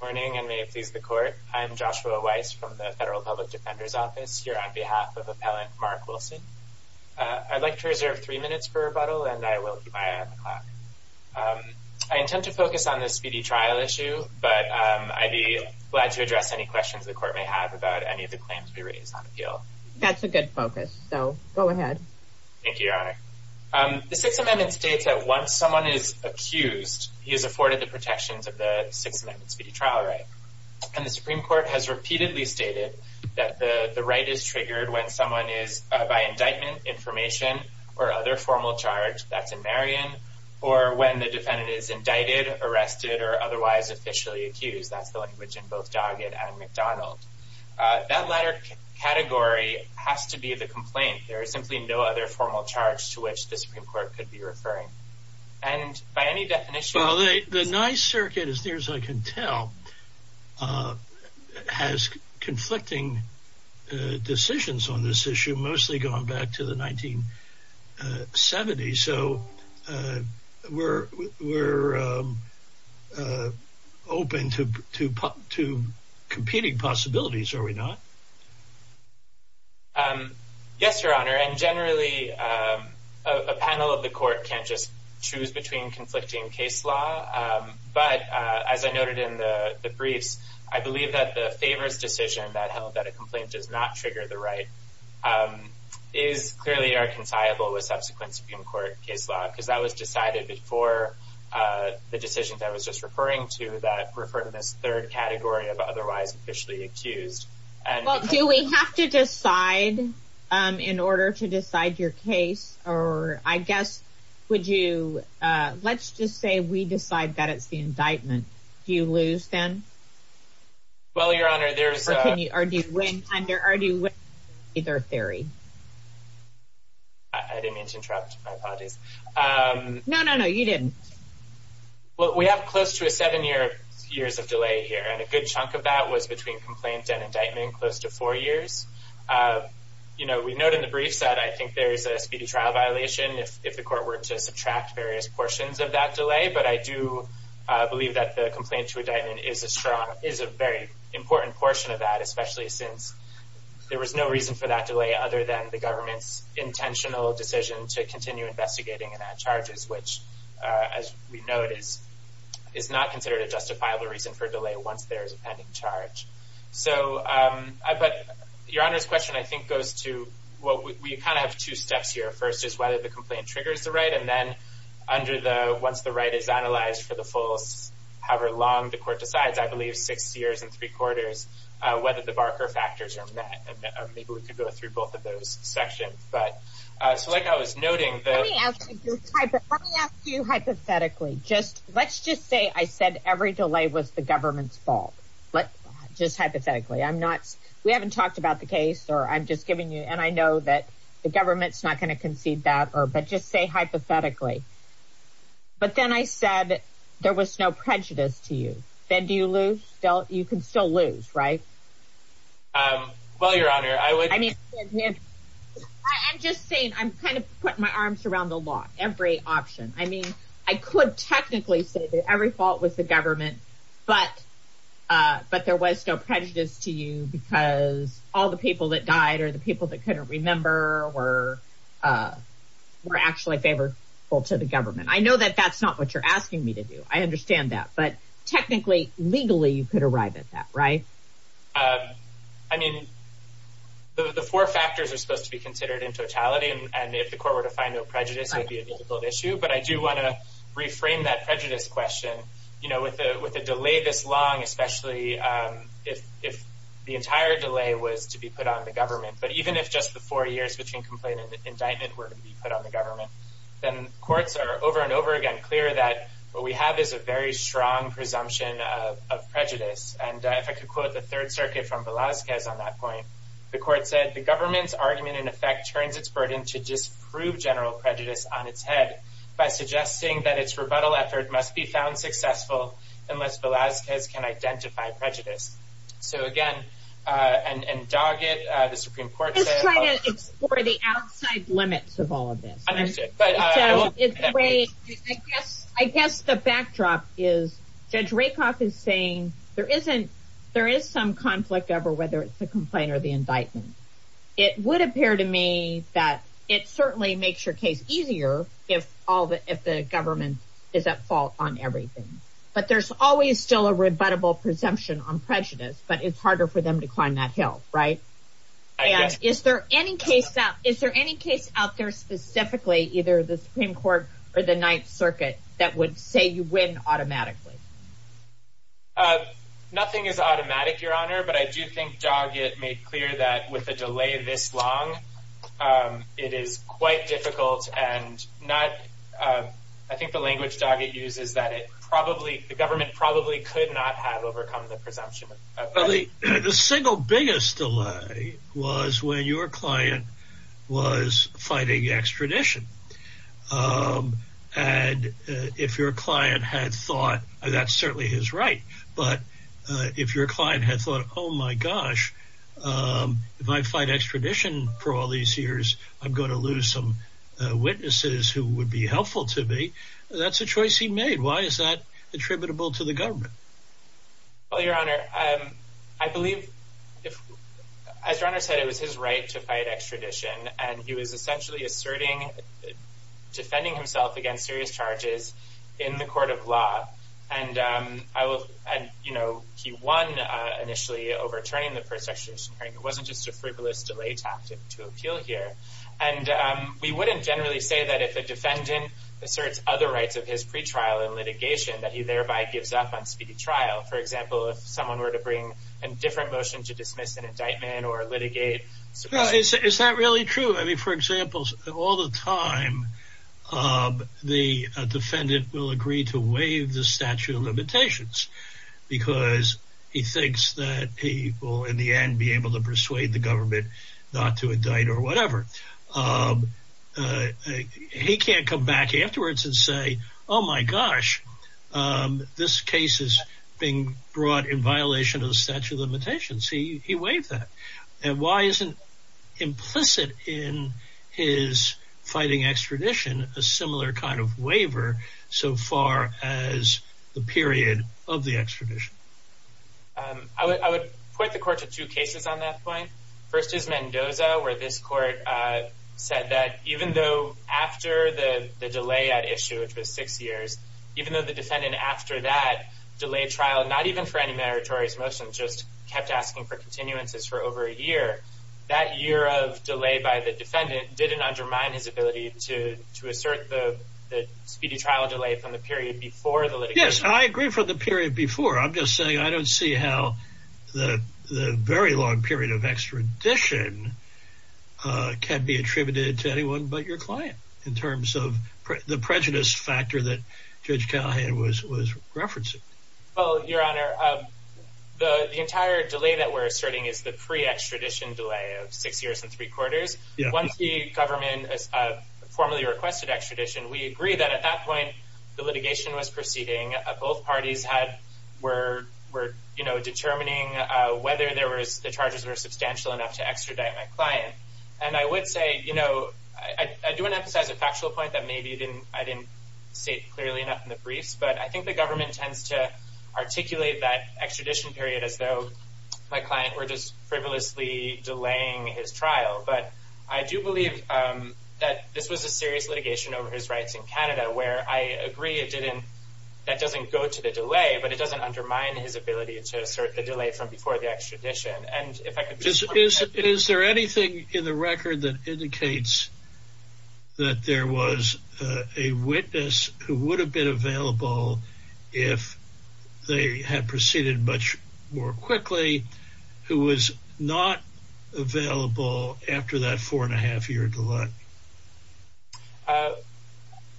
Morning and may it please the court. I'm Joshua Weiss from the Federal Public Defender's Office here on behalf of Appellant Mark Wilson. I'd like to reserve three minutes for rebuttal, and I will keep my eye on the clock. I intend to focus on this speedy trial issue, but I'd be glad to address any questions the court may have about any of the claims we raised on appeal. That's a good focus, so go ahead. Thank you, Your Honor. The Sixth Amendment states that once someone is accused, he is afforded the protections of the Sixth Amendment speedy trial right. And the Supreme Court has repeatedly stated that the right is triggered when someone is by indictment, information, or other formal charge, that's in Marion, or when the defendant is indicted, arrested, or otherwise officially accused. That's the language in both Doggett and McDonald. That latter category has to be the complaint. There is simply no other formal charge to which the Supreme Court could be referring. And by any definition... Well, the Nye circuit, as near as I can tell, has conflicting decisions on this issue, mostly going back to the 1970s. So we're open to competing possibilities, are we not? Yes, Your Honor. And generally, a panel of the court can't just choose between conflicting case law. But as I noted in the briefs, I believe that the favors decision that held that a complaint does not trigger the right is clearly are consciable with subsequent Supreme Court case law, because that was decided before the decisions I was just referring to that refer to this third otherwise officially accused. Well, do we have to decide in order to decide your case? Or I guess, would you... Let's just say we decide that it's the indictment. Do you lose then? Well, Your Honor, there's... Or do you win either theory? I didn't mean to interrupt. My apologies. No, no, no, you didn't. Well, we have close to a seven year years of delay here. And a good chunk of that was between complaint and indictment close to four years. You know, we note in the briefs that I think there's a speedy trial violation if the court were to subtract various portions of that delay. But I do believe that the complaint to indictment is a very important portion of that, especially since there was no reason for that delay other than the government's intentional decision to continue investigating and add charges, which, as we know, it is not considered a justifiable reason for delay once there is a pending charge. So, but Your Honor's question, I think, goes to what we kind of have two steps here. First is whether the complaint triggers the right. And then under the once the right is analyzed for the full, however long the court decides, I believe, six years and three quarters, whether the Barker factors are met. And maybe we could go through both of those sections. But like I was noting, let me ask you hypothetically, just let's just say I said every delay was the government's fault. But just hypothetically, I'm not we haven't talked about the case or I'm just giving you and I know that the government's not going to concede that or but just say hypothetically. But then I said there was no prejudice to you. Then do you lose? Don't you can still lose, right? Well, Your Honor, I would I mean, I'm just saying I'm kind of putting my arms around the law, every option. I mean, I could technically say that every fault was the government. But but there was no prejudice to you because all the people that died are the people that couldn't remember or were actually favorable to the government. I know that that's not what you're right. I mean, the four factors are supposed to be considered in totality. And if the court were to find no prejudice, it would be a difficult issue. But I do want to reframe that prejudice question, you know, with a with a delay this long, especially if if the entire delay was to be put on the government. But even if just the four years between complaint and indictment were to be put on the government, then courts are over and over again clear that what we have is a very strong presumption of prejudice. And if I could quote the Third Circuit from Velazquez on that point, the court said the government's argument in effect turns its burden to just prove general prejudice on its head by suggesting that its rebuttal effort must be found successful unless Velazquez can identify prejudice. So again, and Doggett, the Supreme Court, trying to explore the outside limits of all of this. I guess the backdrop is Judge Rakoff is saying there isn't there is some conflict over whether it's the complaint or the indictment. It would appear to me that it certainly makes your case easier if all the if the government is at fault on everything. But there's always still a rebuttable presumption on prejudice, but it's harder for them to climb that hill, right? And is there any case that is there any case out there specifically, either the Supreme Court or the Ninth Circuit that would say you win automatically? Nothing is automatic, Your Honor. But I do think Doggett made clear that with a delay this long, it is quite difficult and not. I think the language Doggett uses that it probably the government probably could not have overcome the presumption. The single biggest delay was when your client was fighting extradition. And if your client had thought that's certainly his right. But if your client had thought, oh, my gosh, if I fight extradition for all these years, I'm going to lose some witnesses who would be helpful to me. That's a choice he made. Why is that attributable to the government? Well, Your Honor, I believe if, as your Honor said, it was his right to fight extradition. And he was essentially asserting defending himself against serious charges in the court of law. And I will add, you know, he won initially overturning the first section. It wasn't just a frivolous delay tactic to appeal here. And we wouldn't generally say that if a defendant asserts other rights of his pretrial and litigation that he thereby gives up on speedy trial. For example, if someone were to bring a different motion to dismiss an indictment or litigate. Is that really true? I mean, for example, all the time the defendant will agree to waive the statute of limitations because he thinks that he will in the end be able to persuade the government not to indict or whatever. He can't come back afterwards and say, oh, my gosh, this case is being brought in violation of the statute of limitations. He waived that. And why isn't implicit in his fighting extradition a similar kind of waiver so far as the period of the extradition? I would put the court to two cases on that point. First is Mendoza, where this court said that even though after the delay at issue, which was six years, even though the defendant after that delayed trial, not even for any meritorious motion, just kept asking for continuances for over a year, that year of delay by the defendant didn't undermine his ability to assert the speedy trial delay from the period before the I agree for the period before. I'm just saying I don't see how the very long period of extradition can be attributed to anyone but your client in terms of the prejudice factor that Judge Callahan was was referencing. Oh, your honor, the entire delay that we're asserting is the pre extradition delay of six years and three quarters. Once the government formally requested extradition, we agree that at that point, the litigation was proceeding. Both parties had were were, you know, determining whether there was the charges were substantial enough to extradite my client. And I would say, you know, I do want to emphasize a factual point that maybe didn't I didn't say clearly enough in the briefs, but I think the government tends to articulate that extradition period as though my client were just frivolously delaying his trial. But I do believe that this was a serious litigation over his rights in Canada, where I agree it didn't. That doesn't go to the delay, but it doesn't undermine his ability to assert the delay from before the extradition. And if I could just is, is there anything in the record that indicates that there was a witness who would have been available if they had proceeded much more quickly, who was not available after that four and a half year to look?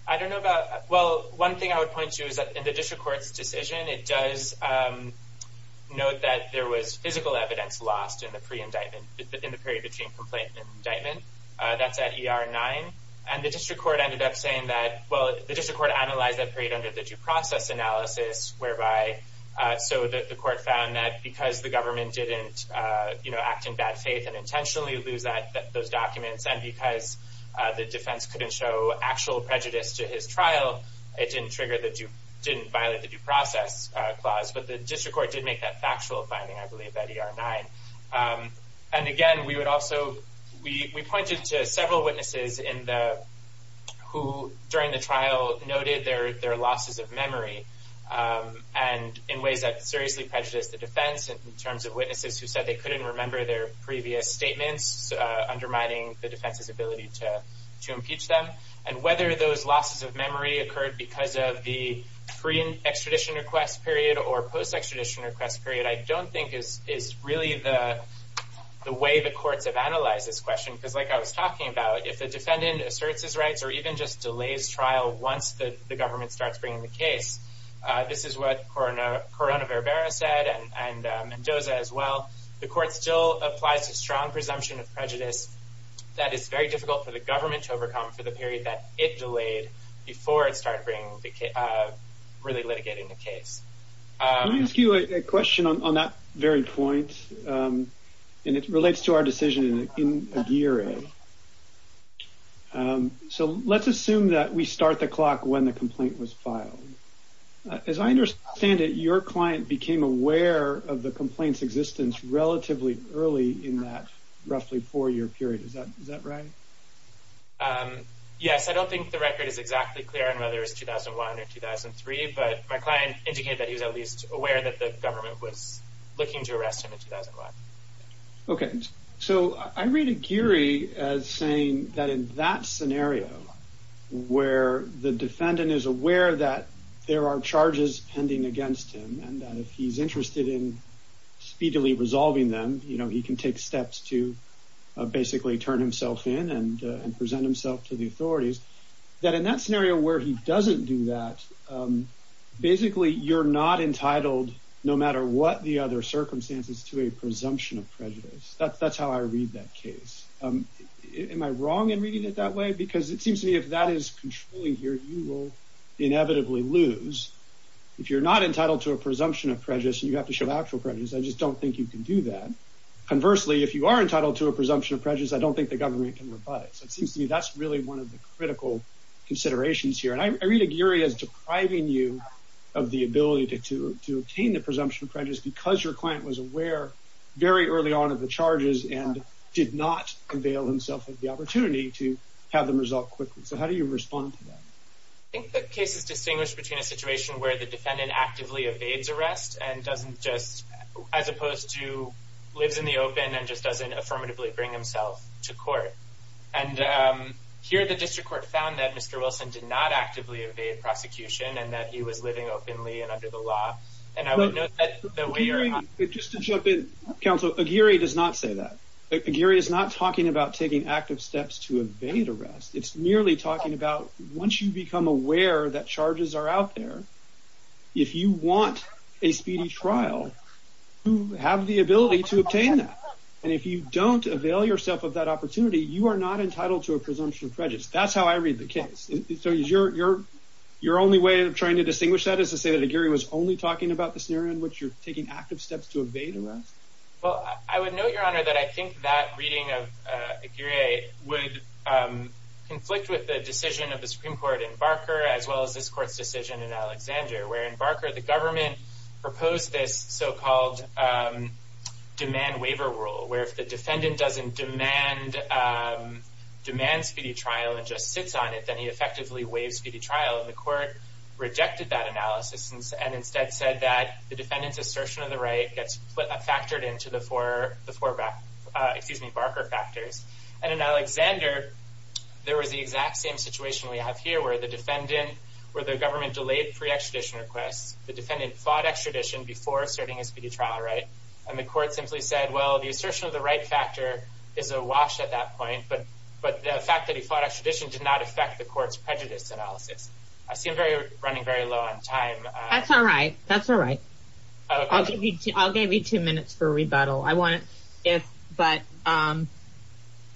I don't know about. Well, one thing I would point to is that in the district court's decision, it does note that there was physical evidence lost in the pre indictment in the period between complaint and indictment. That's at ER nine. And the district court ended up saying that, well, the district court analyzed that period under the due process analysis, whereby so that the court found that because the government didn't act in bad faith and intentionally lose those documents, and because the defense couldn't show actual prejudice to his trial, it didn't violate the due process clause. But the district court did make that factual finding, I believe, at ER nine. And again, we pointed to several witnesses who, during the trial, noted their losses of memory and in ways that seriously prejudiced the defense in terms of witnesses who said they couldn't remember their previous statements, undermining the defense's ability to impeach them. And whether those losses of memory occurred because of the pre-extradition request period or post-extradition request period, I don't think is really the way the courts have analyzed this question. Because like I was talking about, if the defendant asserts his rights or even just delays trial once the government starts bringing the case, this is what Corona Verbera said and Mendoza as well, the court still applies a strong presumption of prejudice that is very difficult for the government to overcome for the period that it delayed before it started really litigating the case. Let me ask you a question on that very point. And it relates to our decision in Aguirre. So let's assume that we start the clock when the complaint was filed. As I understand it, your client became aware of the complaint's existence relatively early in that roughly four-year period. Is that right? Yes, I don't think the record is exactly clear on whether it was 2001 or 2003, but my client indicated that he was at least aware that the government was looking to arrest him in 2005. Okay, so I read Aguirre as saying that in that scenario where the defendant is aware that there are charges pending against him and that if he's interested in speedily resolving them, he can take steps to basically turn himself in and present himself to the authorities. That in that scenario where he doesn't do that, basically you're not entitled no matter what the other circumstances to a presumption of prejudice. That's how I read that case. Am I wrong in reading it that way? Because it seems to me if that is controlling here, you will inevitably lose. If you're not entitled to a presumption of prejudice and you have to show actual prejudice, I just don't think you can do that. Conversely, if you are entitled to a presumption of prejudice, I don't think the government can rebut it. So it seems to me that's really one of the critical considerations here. And I read Aguirre as depriving you of the ability to obtain the presumption of prejudice because your client was aware very early on of the charges and did not avail himself of the opportunity to have them resolved quickly. So how do you respond to that? I think the case is distinguished between a situation where the defendant actively evades arrest as opposed to lives in the open and just doesn't affirmatively bring himself to court. And here the district court found that Mr. Wilson did not actively evade prosecution and that he was living openly and under the law. Just to jump in, counsel, Aguirre does not say that. Aguirre is not talking about taking active steps to evade arrest. It's merely talking about once you become aware that charges are out there, if you want a speedy trial, you have the ability to obtain that. And if you don't avail yourself of that opportunity, you are not entitled to a presumption of prejudice. That's how I read the case. Your only way of trying to distinguish that is to say that Aguirre was only talking about the scenario in which you're taking active steps to evade arrest? Well, I would note, Your Honor, that I think that reading of Aguirre would conflict with the decision of the Supreme Court in Barker, as well as this court's decision in Alexander, where in Barker, the government proposed this so-called demand waiver rule, where if the court rejected that analysis and instead said that the defendant's assertion of the right gets factored into the four Barker factors. And in Alexander, there was the exact same situation we have here, where the government delayed pre-extradition requests, the defendant fought extradition before starting a speedy trial, and the court simply said, well, the assertion of the right factor is awash at that point, but the fact that he fought extradition did not affect the court's prejudice analysis. I see I'm running very low on time. That's all right. That's all right. I'll give you two minutes for rebuttal.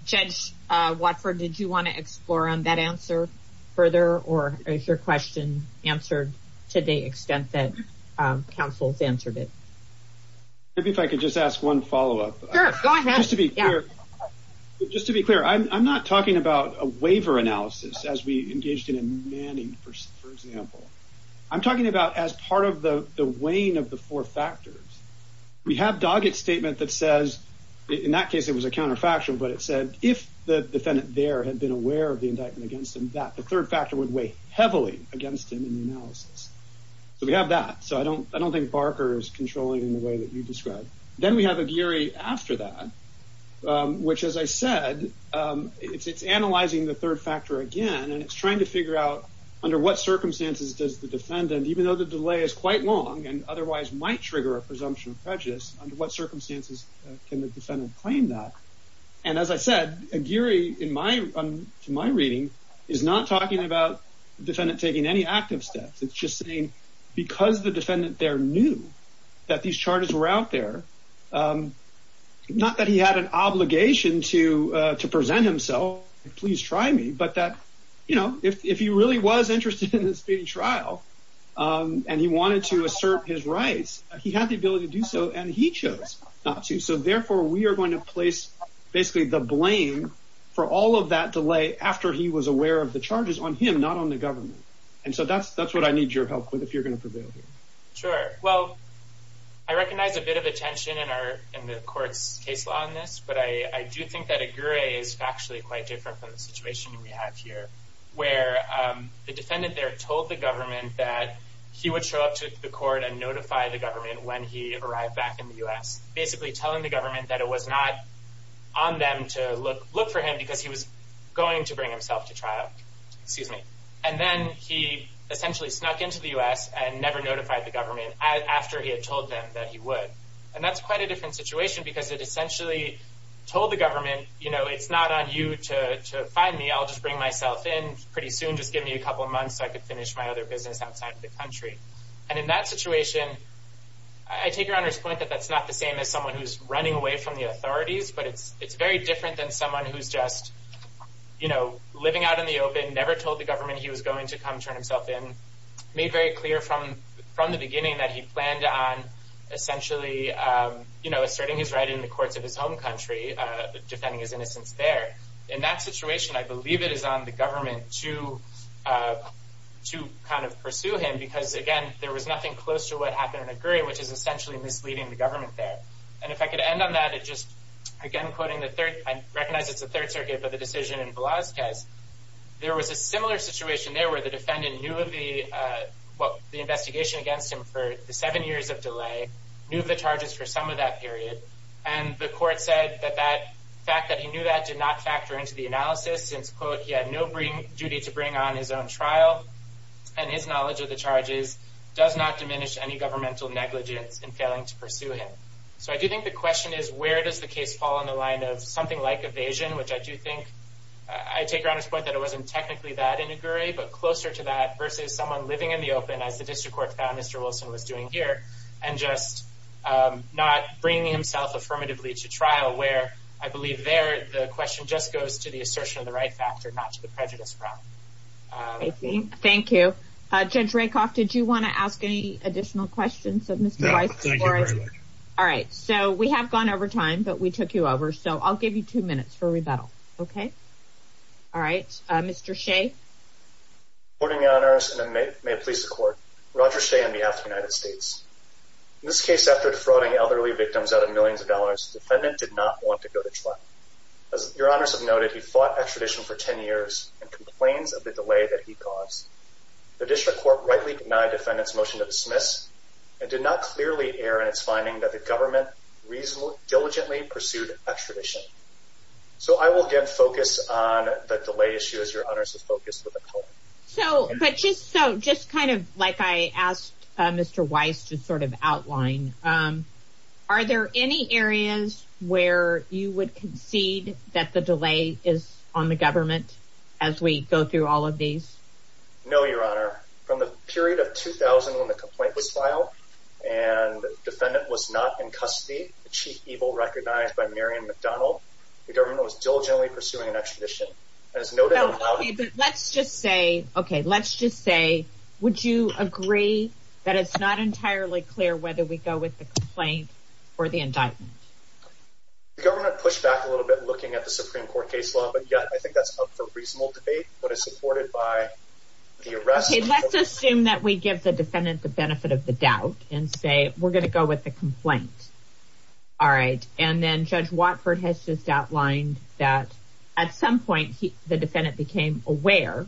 Judge Watford, did you want to explore on that answer further, or is your question answered to the extent that counsel's answered it? Maybe if I could just ask one follow-up. Sure, go ahead. Just to be clear, I'm not talking about a waiver analysis as we engaged in in Manning, for example. I'm talking about as part of the weighing of the four factors. We have Doggett's statement that says, in that case, it was a counterfactual, but it said if the defendant there had been aware of the indictment against him, that the third factor would weigh heavily against him in the analysis. So we have that. So I don't think Barker is controlling in the way that you described. Then we have after that, which, as I said, it's analyzing the third factor again, and it's trying to figure out under what circumstances does the defendant, even though the delay is quite long and otherwise might trigger a presumption of prejudice, under what circumstances can the defendant claim that? As I said, Aguirre, to my reading, is not talking about the defendant taking any active steps. It's just saying because the defendant there knew that these charges were out there, not that he had an obligation to present himself, please try me, but that if he really was interested in this trial and he wanted to assert his rights, he had the ability to do so and he chose not to. So therefore, we are going to place basically the blame for all of that delay after he was aware of charges on him, not on the government. And so that's what I need your help with, if you're going to prevail here. Sure. Well, I recognize a bit of attention in the court's case law on this, but I do think that Aguirre is actually quite different from the situation we have here, where the defendant there told the government that he would show up to the court and notify the government when he arrived back in the U.S., basically telling the government that it was not on them to look for him because he was going to bring himself to trial. Excuse me. And then he essentially snuck into the U.S. and never notified the government after he had told them that he would. And that's quite a different situation because it essentially told the government, you know, it's not on you to find me. I'll just bring myself in pretty soon. Just give me a couple of months so I could finish my other business outside of the country. And in that situation, I take your Honor's point that that's not the same as someone who's running away from the authorities, but it's very different than someone who's just, you know, living out in the open, never told the government he was going to come turn himself in, made very clear from the beginning that he planned on essentially, you know, asserting his right in the courts of his home country, defending his innocence there. In that situation, I believe it is on the government to kind of pursue him because, again, there was nothing close to what happened in Aguirre, which is essentially misleading the government there. And if I could end on that, it just, again, quoting the third, I recognize it's the Third Circuit, but the decision in Velazquez, there was a similar situation there where the defendant knew of the, what, the investigation against him for the seven years of delay, knew of the charges for some of that period, and the court said that that fact that he knew that did not factor into the analysis since, quote, he had no duty to bring on his own trial, and his knowledge of the charges does not diminish any negligence in failing to pursue him. So I do think the question is, where does the case fall in the line of something like evasion, which I do think, I take it on his point that it wasn't technically that in Aguirre, but closer to that versus someone living in the open, as the district court found Mr. Wilson was doing here, and just not bringing himself affirmatively to trial, where I believe there, the question just goes to the assertion of the right factor, not to the prejudice problem. Thank you. Judge Rakoff, did you want to ask any additional questions of Mr. Weiss? No, thank you very much. All right, so we have gone over time, but we took you over, so I'll give you two minutes for rebuttal, okay? All right, Mr. Shea? Good morning, Your Honors, and may it please the Court. Roger Shea on behalf of the United States. In this case, after defrauding elderly victims out of millions of dollars, the defendant did not want to go to trial. As Your Honors have noted, he fought extradition for 10 years and complains of the delay that he caused. The district court rightly denied defendant's motion to dismiss, and did not clearly err in its finding that the government diligently pursued extradition. So, I will again focus on the delay issue, as Your Honors have focused with the Court. So, just kind of like I asked Mr. Weiss to sort of outline, are there any areas where you would concede that the delay is on the government, as we go through all of these? No, Your Honor. From the period of 2000, when the complaint was filed, and the defendant was not in custody, the chief evil recognized by Marian McDonnell, the government was diligently pursuing an extradition. As noted— No, okay, but let's just say, okay, let's just say, would you agree that it's not entirely clear whether we go with the complaint or the indictment? The government pushed back a little bit, looking at the Supreme Court case law, but yeah, I think that's up for reasonable debate, but it's supported by the arrest. Okay, let's assume that we give the defendant the benefit of the doubt, and say, we're going to go with the complaint. All right, and then Judge Watford has just outlined that at some point, the defendant became aware,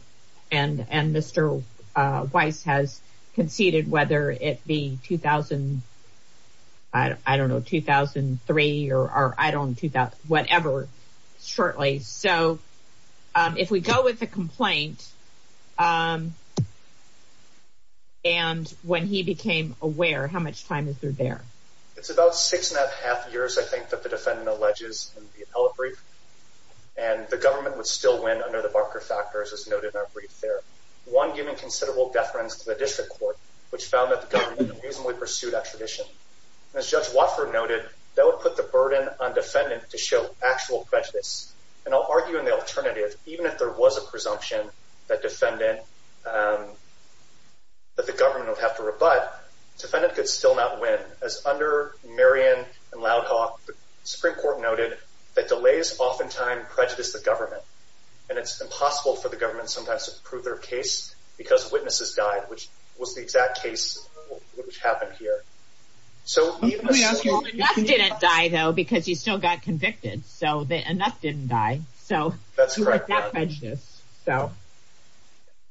and Mr. Weiss has conceded, whether it be 2000, I don't know, 2003, or I don't know, whatever, shortly. So, if we go with the complaint, and when he became aware, how much time is there there? It's about six and a half years, I think, that the defendant alleges in the appellate brief, and the government would still win under the Barker factors, as noted in our brief there. One giving considerable deference to the district court, which found that the government reasonably pursued that tradition, and as Judge Watford noted, that would put the burden on defendant to show actual prejudice, and I'll argue in the alternative, even if there was a presumption that defendant, that the government would have to rebut, defendant could still not win, as under Marion and Loudhawk, the Supreme Court noted that delays oftentimes prejudice the government, and it's impossible for the government sometimes to prove their case, because witnesses died, which was the exact case, which happened here. So, enough didn't die, though, because he still got convicted, so enough didn't die. So, that's correct, that prejudice, so.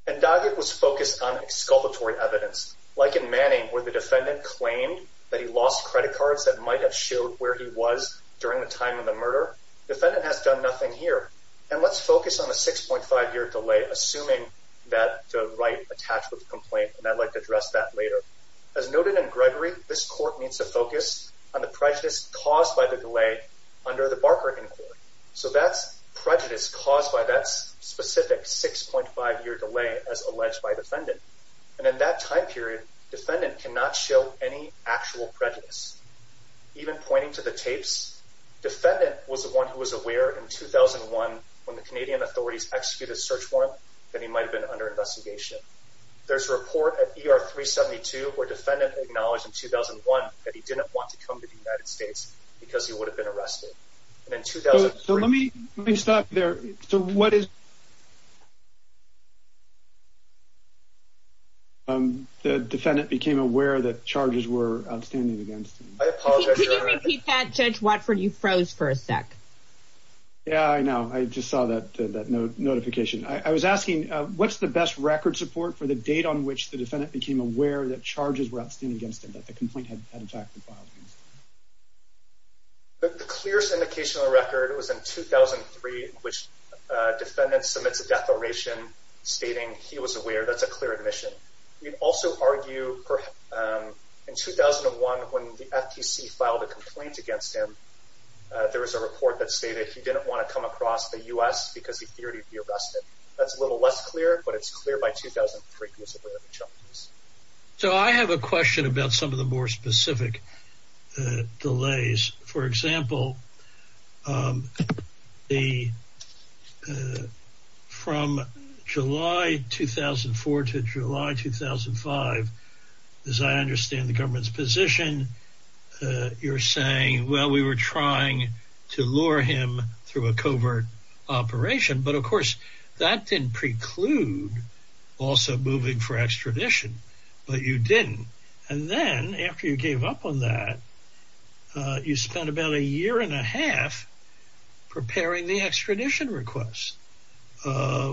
And Daggett was focused on exculpatory evidence, like in Manning, where the defendant claimed that he lost credit cards that might have showed where he was during the time of the murder. Defendant has done nothing here, and let's focus on the 6.5-year delay, assuming that the right attached with the complaint, and I'd like to address that later. As noted in Gregory, this court needs to focus on the prejudice caused by the delay under the Barker Inquiry, so that's prejudice caused by that specific 6.5-year delay, as alleged by defendant, and in that time period, defendant cannot show any actual prejudice. Even pointing to the tapes, defendant was the one who was aware in 2001, when the Canadian authorities executed a search warrant, that he might have been under investigation. There's a report at ER 372, where defendant acknowledged in 2001 that he didn't want to come to the United States, because he would have been arrested, and in 2003- So, let me, let me stop there. So, what is- The defendant became aware that charges were outstanding against him. I apologize- Can you repeat that, Judge Watford? You froze for a sec. Yeah, I know. I just saw that notification. I was asking, what's the best record support for the date on which the defendant became aware that charges were outstanding against him, that the complaint had in fact been filed? The clearest indication of the record was in 2003, which defendant submits a declaration stating he was aware, that's a clear admission. We'd also argue, in 2001, when the FTC filed a complaint against him, there was a report that stated he didn't want to come across the US, because he feared he'd be arrested. That's a little less clear, but it's clear by 2003, he was aware of the charges. So, I have a question about some of the more specific delays. For example, from July 2004 to July 2005, as I understand the government's position, you're saying, well, we were trying to lure him through a covert operation. But of course, that didn't preclude also moving for extradition, but you didn't. And then, after you gave up on that, you spent about a year and a half preparing the extradition request,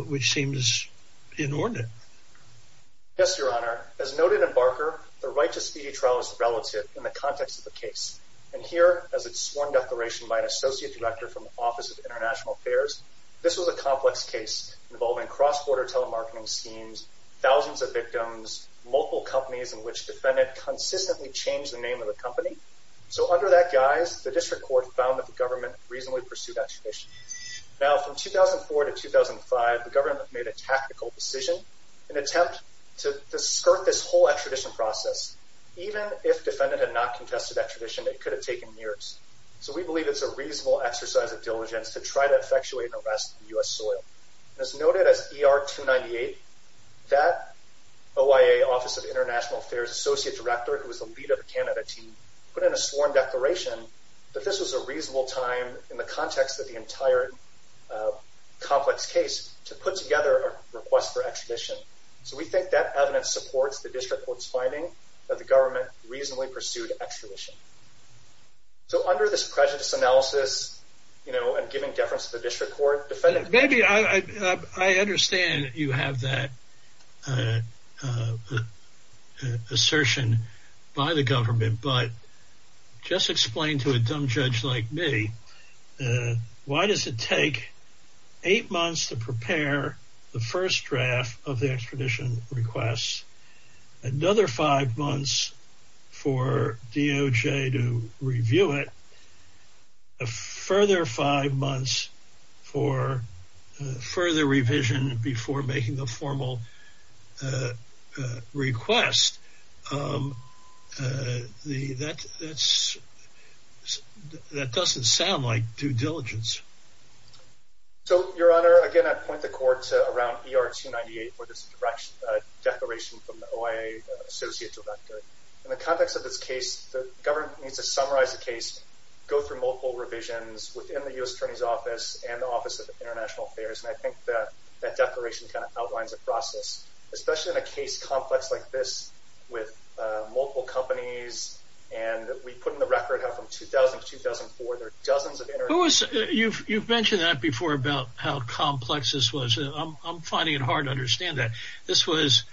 which seems inordinate. Yes, Your Honor. As noted in Barker, the right to speedy trial is relative in the context of the case. And here, as it's sworn declaration by an associate director from the Office of International Affairs, this was a complex case involving cross-border telemarketing schemes, thousands of victims, multiple companies in which the defendant consistently changed the name of the company. So, under that guise, the district court found that the government reasonably pursued extradition. Now, from 2004 to 2005, the government made a tactical decision in an attempt to skirt this whole extradition process. Even if defendant had not contested extradition, it could have taken years. So, we believe it's a reasonable exercise of diligence to try to effectuate an arrest in U.S. soil. As noted as ER-298, that OIA Office of International Affairs associate director, who was the lead of the Canada team, put in a sworn declaration that this was a reasonable time in the context of the entire complex case to put together a request for extradition. So, we think that evidence supports the district court's finding that the government reasonably pursued extradition. So, under this prejudice analysis, you know, and giving deference to the district court, defendant... Maybe, I understand that you have that assertion by the government, but just explain to a dumb judge like me, why does it take eight months to prepare the first draft of the extradition request, another five months for DOJ to review it, a further five months for further revision before making the formal request? That doesn't sound like due diligence. So, Your Honor, again, I'd point the court to around ER-298, where there's a declaration from the OIA associate director. In the context of this case, the government needs to summarize the case, go through multiple revisions within the U.S. Attorney's Office and the Office of International Affairs. And I think that that declaration kind of outlines the process, especially in a case complex like this with multiple companies. And we put in the record how from 2000 to 2004, there are dozens of... You've mentioned that before about how complex this was. I'm finding it hard to understand that. This was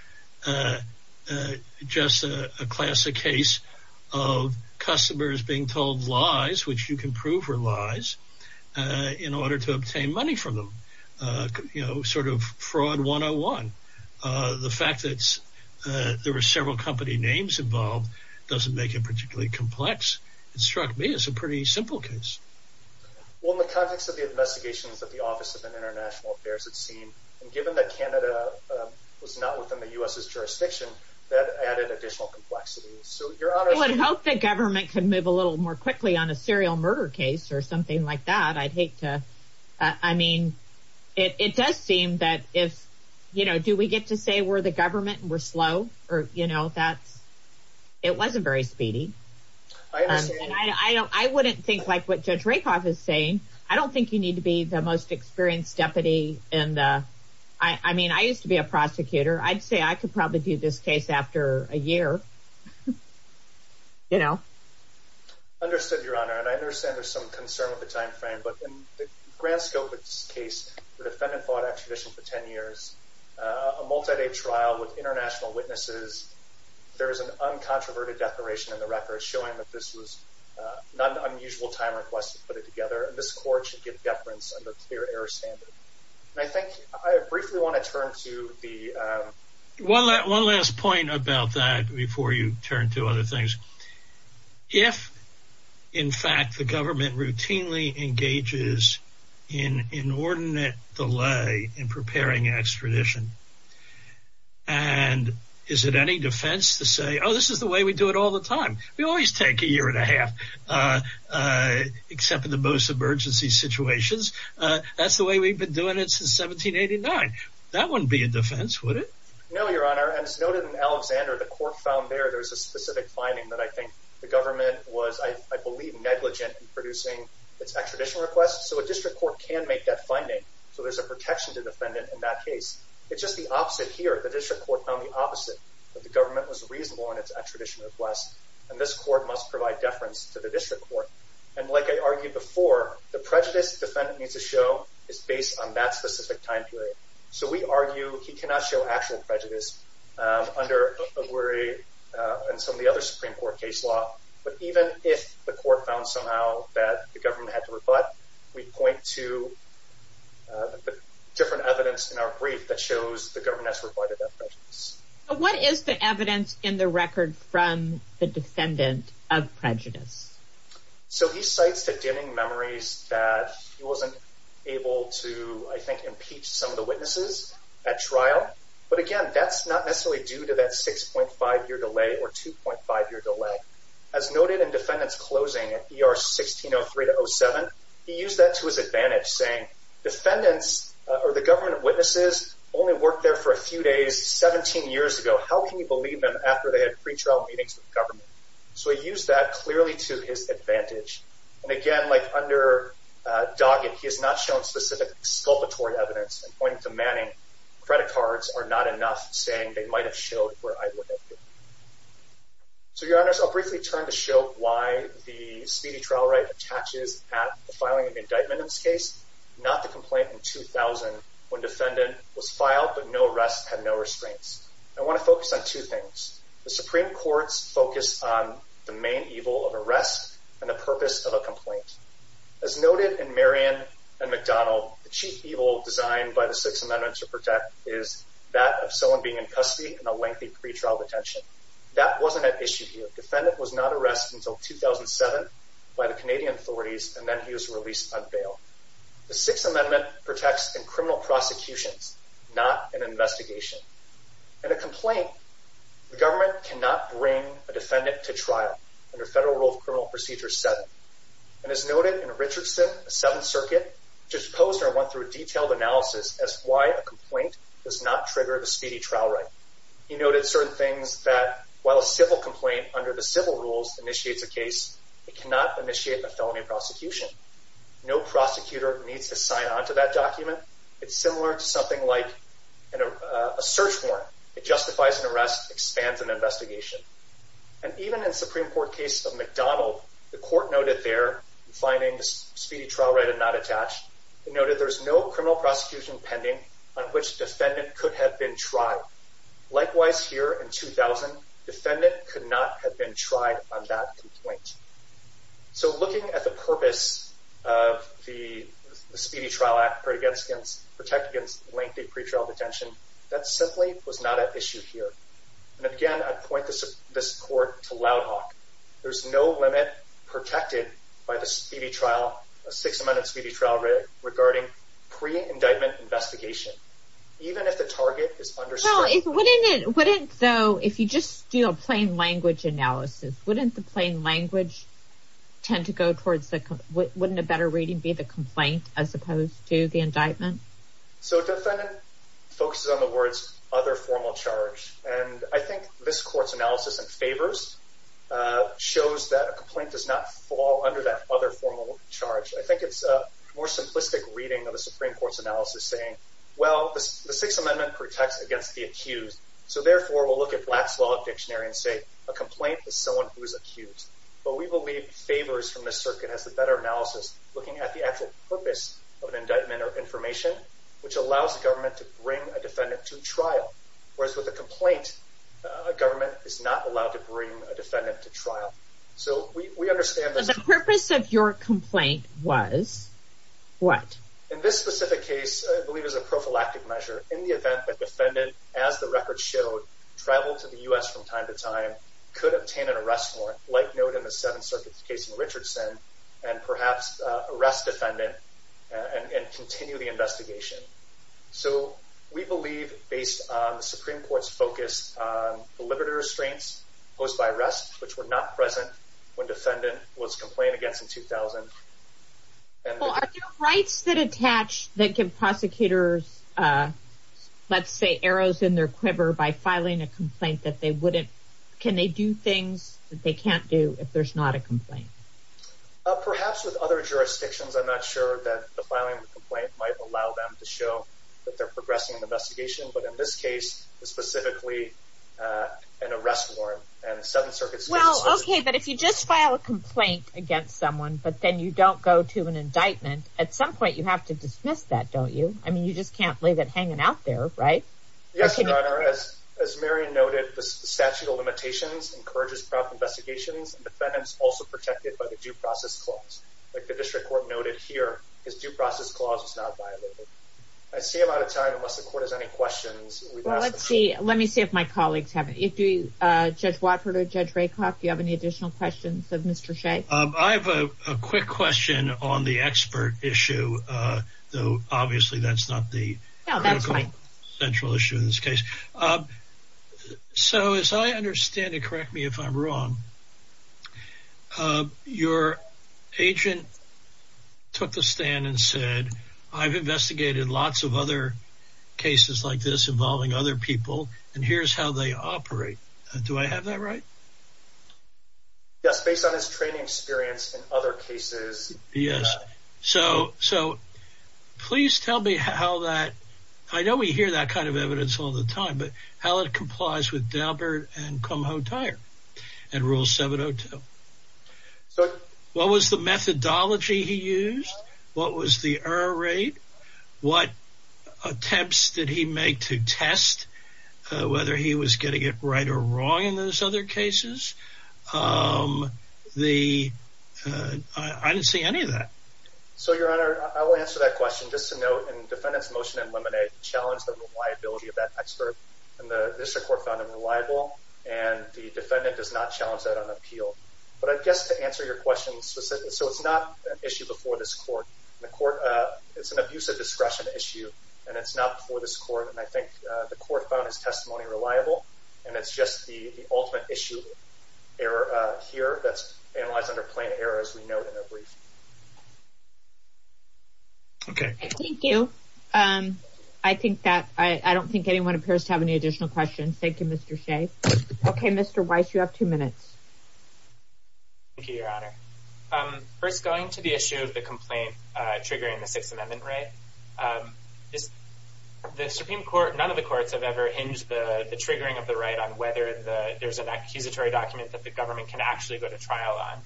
just a classic case of customers being told lies, which you can prove were lies, in order to obtain money from them. You know, sort of fraud 101. The fact that there were several company names involved doesn't make it particularly complex. It struck me as a pretty simple case. Well, in the context of the investigations that the Office of International Affairs had seen, and given that Canada was not within the U.S.'s jurisdiction, that added additional complexity. So Your Honor... I would hope the government could move a little more quickly on a serial murder case or something like that. I'd hate to... I mean, it does seem that if, you know, do we get to say we're the I understand. I wouldn't think like what Judge Rakoff is saying. I don't think you need to be the most experienced deputy in the... I mean, I used to be a prosecutor. I'd say I could probably do this case after a year. You know? Understood, Your Honor. And I understand there's some concern with the time frame, but in the grand scope of this case, the defendant fought extradition for 10 years, a multi-day trial with international witnesses. There is an uncontroverted declaration in the records showing that this was not an unusual time request to put it together, and this court should give deference under clear error standard. And I think... I briefly want to turn to the... One last point about that before you turn to other things. If, in fact, the government routinely engages in inordinate delay in preparing extradition, and is it any defense to say, oh, this is the way we do it all the time. We always take a year and a half, except in the most emergency situations. That's the way we've been doing it since 1789. That wouldn't be a defense, would it? No, Your Honor. And it's noted in Alexander, the court found there there's a specific finding that I think the government was, I believe, negligent in producing its extradition request. So a district court can make that finding. So there's a protection to the defendant in that case. It's just the opposite here. The district court found the opposite, that the government was reasonable in its extradition request, and this court must provide deference to the district court. And like I argued before, the prejudice the defendant needs to show is based on that specific time period. So we argue he cannot show actual prejudice under Oguri and some of the other Supreme Court case law. But even if the court found somehow that the government had to rebut, we point to different evidence in our brief that shows the governess reported that prejudice. What is the evidence in the record from the defendant of prejudice? So he cites the dimming memories that he wasn't able to, I think, impeach some of the witnesses at trial. But again, that's not necessarily due to that 6.5-year delay or 2.5-year delay. As noted in defendant's closing at ER 1603-07, he used that to his advantage, saying, defendants or the government witnesses only worked there for a few days, 17 years ago. How can you believe them after they had pretrial meetings with government? So he used that clearly to his advantage. And again, like under Doggett, he has not shown specific exculpatory evidence. I'm pointing to Manning. Credit cards are not enough, saying they might have showed where I would have been. So, Your Honors, I'll briefly turn to show why the speedy trial right attaches at the filing of indictment in this case, not the complaint in 2000 when defendant was filed, but no arrest, had no restraints. I want to focus on two things. The Supreme Court's focus on the main evil of arrest and the purpose of a complaint. As noted in Marion and McDonald, the chief evil designed by the Sixth Amendment to protect is that of someone being in custody and a lengthy pretrial detention. That wasn't an issue here. Defendant was not arrested until 2007 by the Canadian authorities, and then he was released on bail. The Sixth Amendment protects in criminal prosecutions, not an investigation. In a complaint, the government cannot bring a defendant to trial under Federal Rule of Criminal Procedure 7. And as noted in Richardson, the Seventh Circuit, Judge Posner went through a detailed analysis as to why a complaint does not trigger the speedy trial right. He noted certain things that while a civil complaint under the civil rules initiates a case, it cannot initiate a felony prosecution. No prosecutor needs to sign onto that document. It's similar to something like a search warrant. It justifies an arrest, expands an investigation. And even in the Supreme Court case of McDonald, the court noted their findings, speedy trial right and not attached. It noted there's no criminal prosecution pending on which defendant could have been tried. Likewise, here in 2000, defendant could not have been tried on that complaint. So looking at the purpose of the Speedy Trial Act against, protect against lengthy pretrial detention, that simply was not an issue here. And again, I'd point this court to Loud Hawk. There's no limit protected by the Speedy Trial, a Sixth Amendment Speedy Trial regarding pre-indictment investigation. Even if the target is understood. Well, wouldn't it, wouldn't though, if you just do a plain language analysis, wouldn't the plain language tend to go towards the, wouldn't a better reading be the complaint as opposed to the indictment? So defendant focuses on the words, other formal charge. And I think this court's analysis and favors shows that a complaint does not fall under that other formal charge. I think it's a more simplistic reading of the Supreme Court's analysis saying, well, the Sixth Amendment protects against the accused. So therefore we'll look at Black's Law Dictionary and say, a complaint is someone who is accused. But we believe favors from the circuit has a better analysis, looking at the actual purpose of an indictment or information, which allows the government to bring a defendant to trial. Whereas with a complaint, a government is not allowed to bring a defendant to trial. So we understand that the purpose of your complaint was what? In this specific case, I believe it was a prophylactic measure in the event that defendant, as the record showed, traveled to the U.S. from time to time, could obtain an arrest warrant, like noted in the Seventh Circuit's case in Richardson, and perhaps arrest defendant and continue the investigation. So we believe, based on the Supreme Court's focus on the liberty restraints posed by arrest, which were not present when defendant was complained against in 2000. Well, are there rights that attach, that give prosecutors, let's say, arrows in their quiver by filing a complaint that they wouldn't, can they do things that they can't do if there's not a complaint? Perhaps with other jurisdictions, I'm not sure that the filing of a complaint might allow them to show that they're progressing an investigation. But in this case, specifically, an arrest warrant and the Seventh Circuit's case... Well, okay, but if you just file a complaint against someone, but then you don't go to an indictment, at some point you have to dismiss that, don't you? I mean, you just can't leave it hanging out there, right? Yes, Your Honor. As Mary noted, the statute of limitations encourages prompt investigations, and defendants also protected by the due process clause, like the district court noted here. This due process clause is not violated. I see I'm out of time, unless the court has any questions. Let me see if my colleagues have any. Judge Watford or Judge Rakoff, do you have any additional questions of Mr. Shea? I have a quick question on the expert issue, though obviously that's not the central issue in this case. So as I understand it, correct me if I'm wrong, your agent took the stand and said, I've investigated lots of other cases like this involving other people, and here's how they operate. Do I have that right? Yes, based on his training experience in other cases. Yes, so please tell me how that, I know we hear that kind of evidence all the time, but how it complies with Dalbert and Kumho Tire and Rule 702. What was the methodology he used? What was the error rate? What attempts did he make to test whether he was getting it right or wrong in those other cases? I didn't see any of that. So your honor, I will answer that question. Just to note, in the defendant's motion in Lemonade, challenged the reliability of that expert, and the district court found him reliable, and the defendant does not challenge that on appeal. But I guess to answer your question specifically, so it's not an issue before this court. It's an abuse of discretion issue, and it's not before this court, and I think the court found his testimony reliable, and it's just the ultimate issue here that's analyzed under plain error, as we note in the brief. Thank you. I don't think anyone appears to have any additional questions. Thank you, Mr. Shea. Okay, Mr. Weiss, you have two minutes. Thank you, your honor. First, going to the issue of the complaint triggering the Sixth Amendment right. None of the courts have ever hinged the triggering of the right on whether there's an accusatory document that the government can actually go to trial on.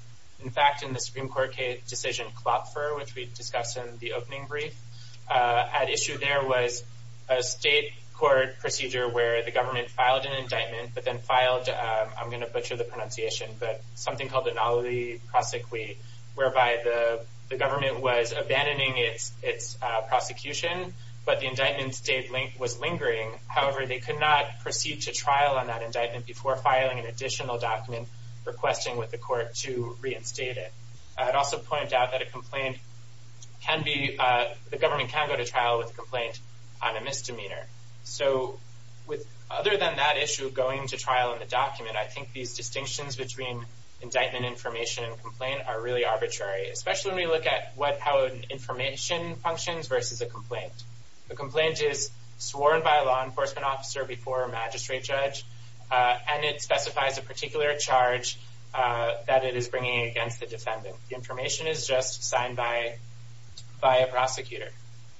In fact, in the Supreme Court decision Klopfer, which we discussed in the opening brief, at issue there was a state court procedure where the government filed an indictment, but then filed, I'm going to butcher the prosecution, but the indictment stayed, was lingering. However, they could not proceed to trial on that indictment before filing an additional document requesting with the court to reinstate it. I'd also point out that a complaint can be, the government can go to trial with a complaint on a misdemeanor. So with other than that issue going to trial in the document, I think these distinctions between indictment information and complaint are really versus a complaint. A complaint is sworn by a law enforcement officer before a magistrate judge, and it specifies a particular charge that it is bringing against the defendant. The information is just signed by a prosecutor.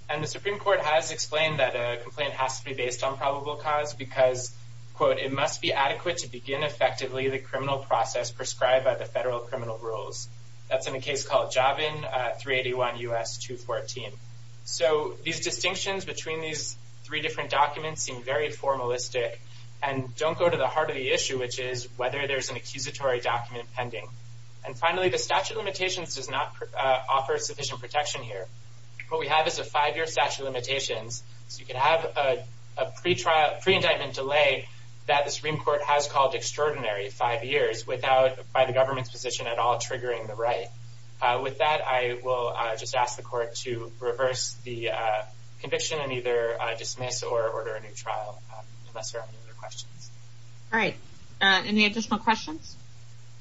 And the Supreme Court has explained that a complaint has to be based on probable cause because, quote, it must be adequate to begin effectively the criminal process prescribed by the federal criminal rules. That's in a case called Javin 381 U.S. 214. So these distinctions between these three different documents seem very formalistic and don't go to the heart of the issue, which is whether there's an accusatory document pending. And finally, the statute of limitations does not offer sufficient protection here. What we have is a five-year statute of limitations. So you can have a pre-trial, pre-indictment delay that the Supreme Court has called extraordinary five years without, by the government's position at all, the conviction and either dismiss or order a new trial, unless there are any other questions. All right. Any additional questions?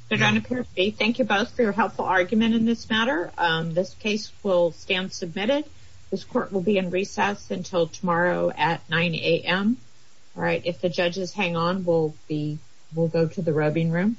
Thank you both for your helpful argument in this matter. This case will stand submitted. This court will be in recess until tomorrow at 9 a.m. All right. If the judges hang on, we'll go to the rubbing room.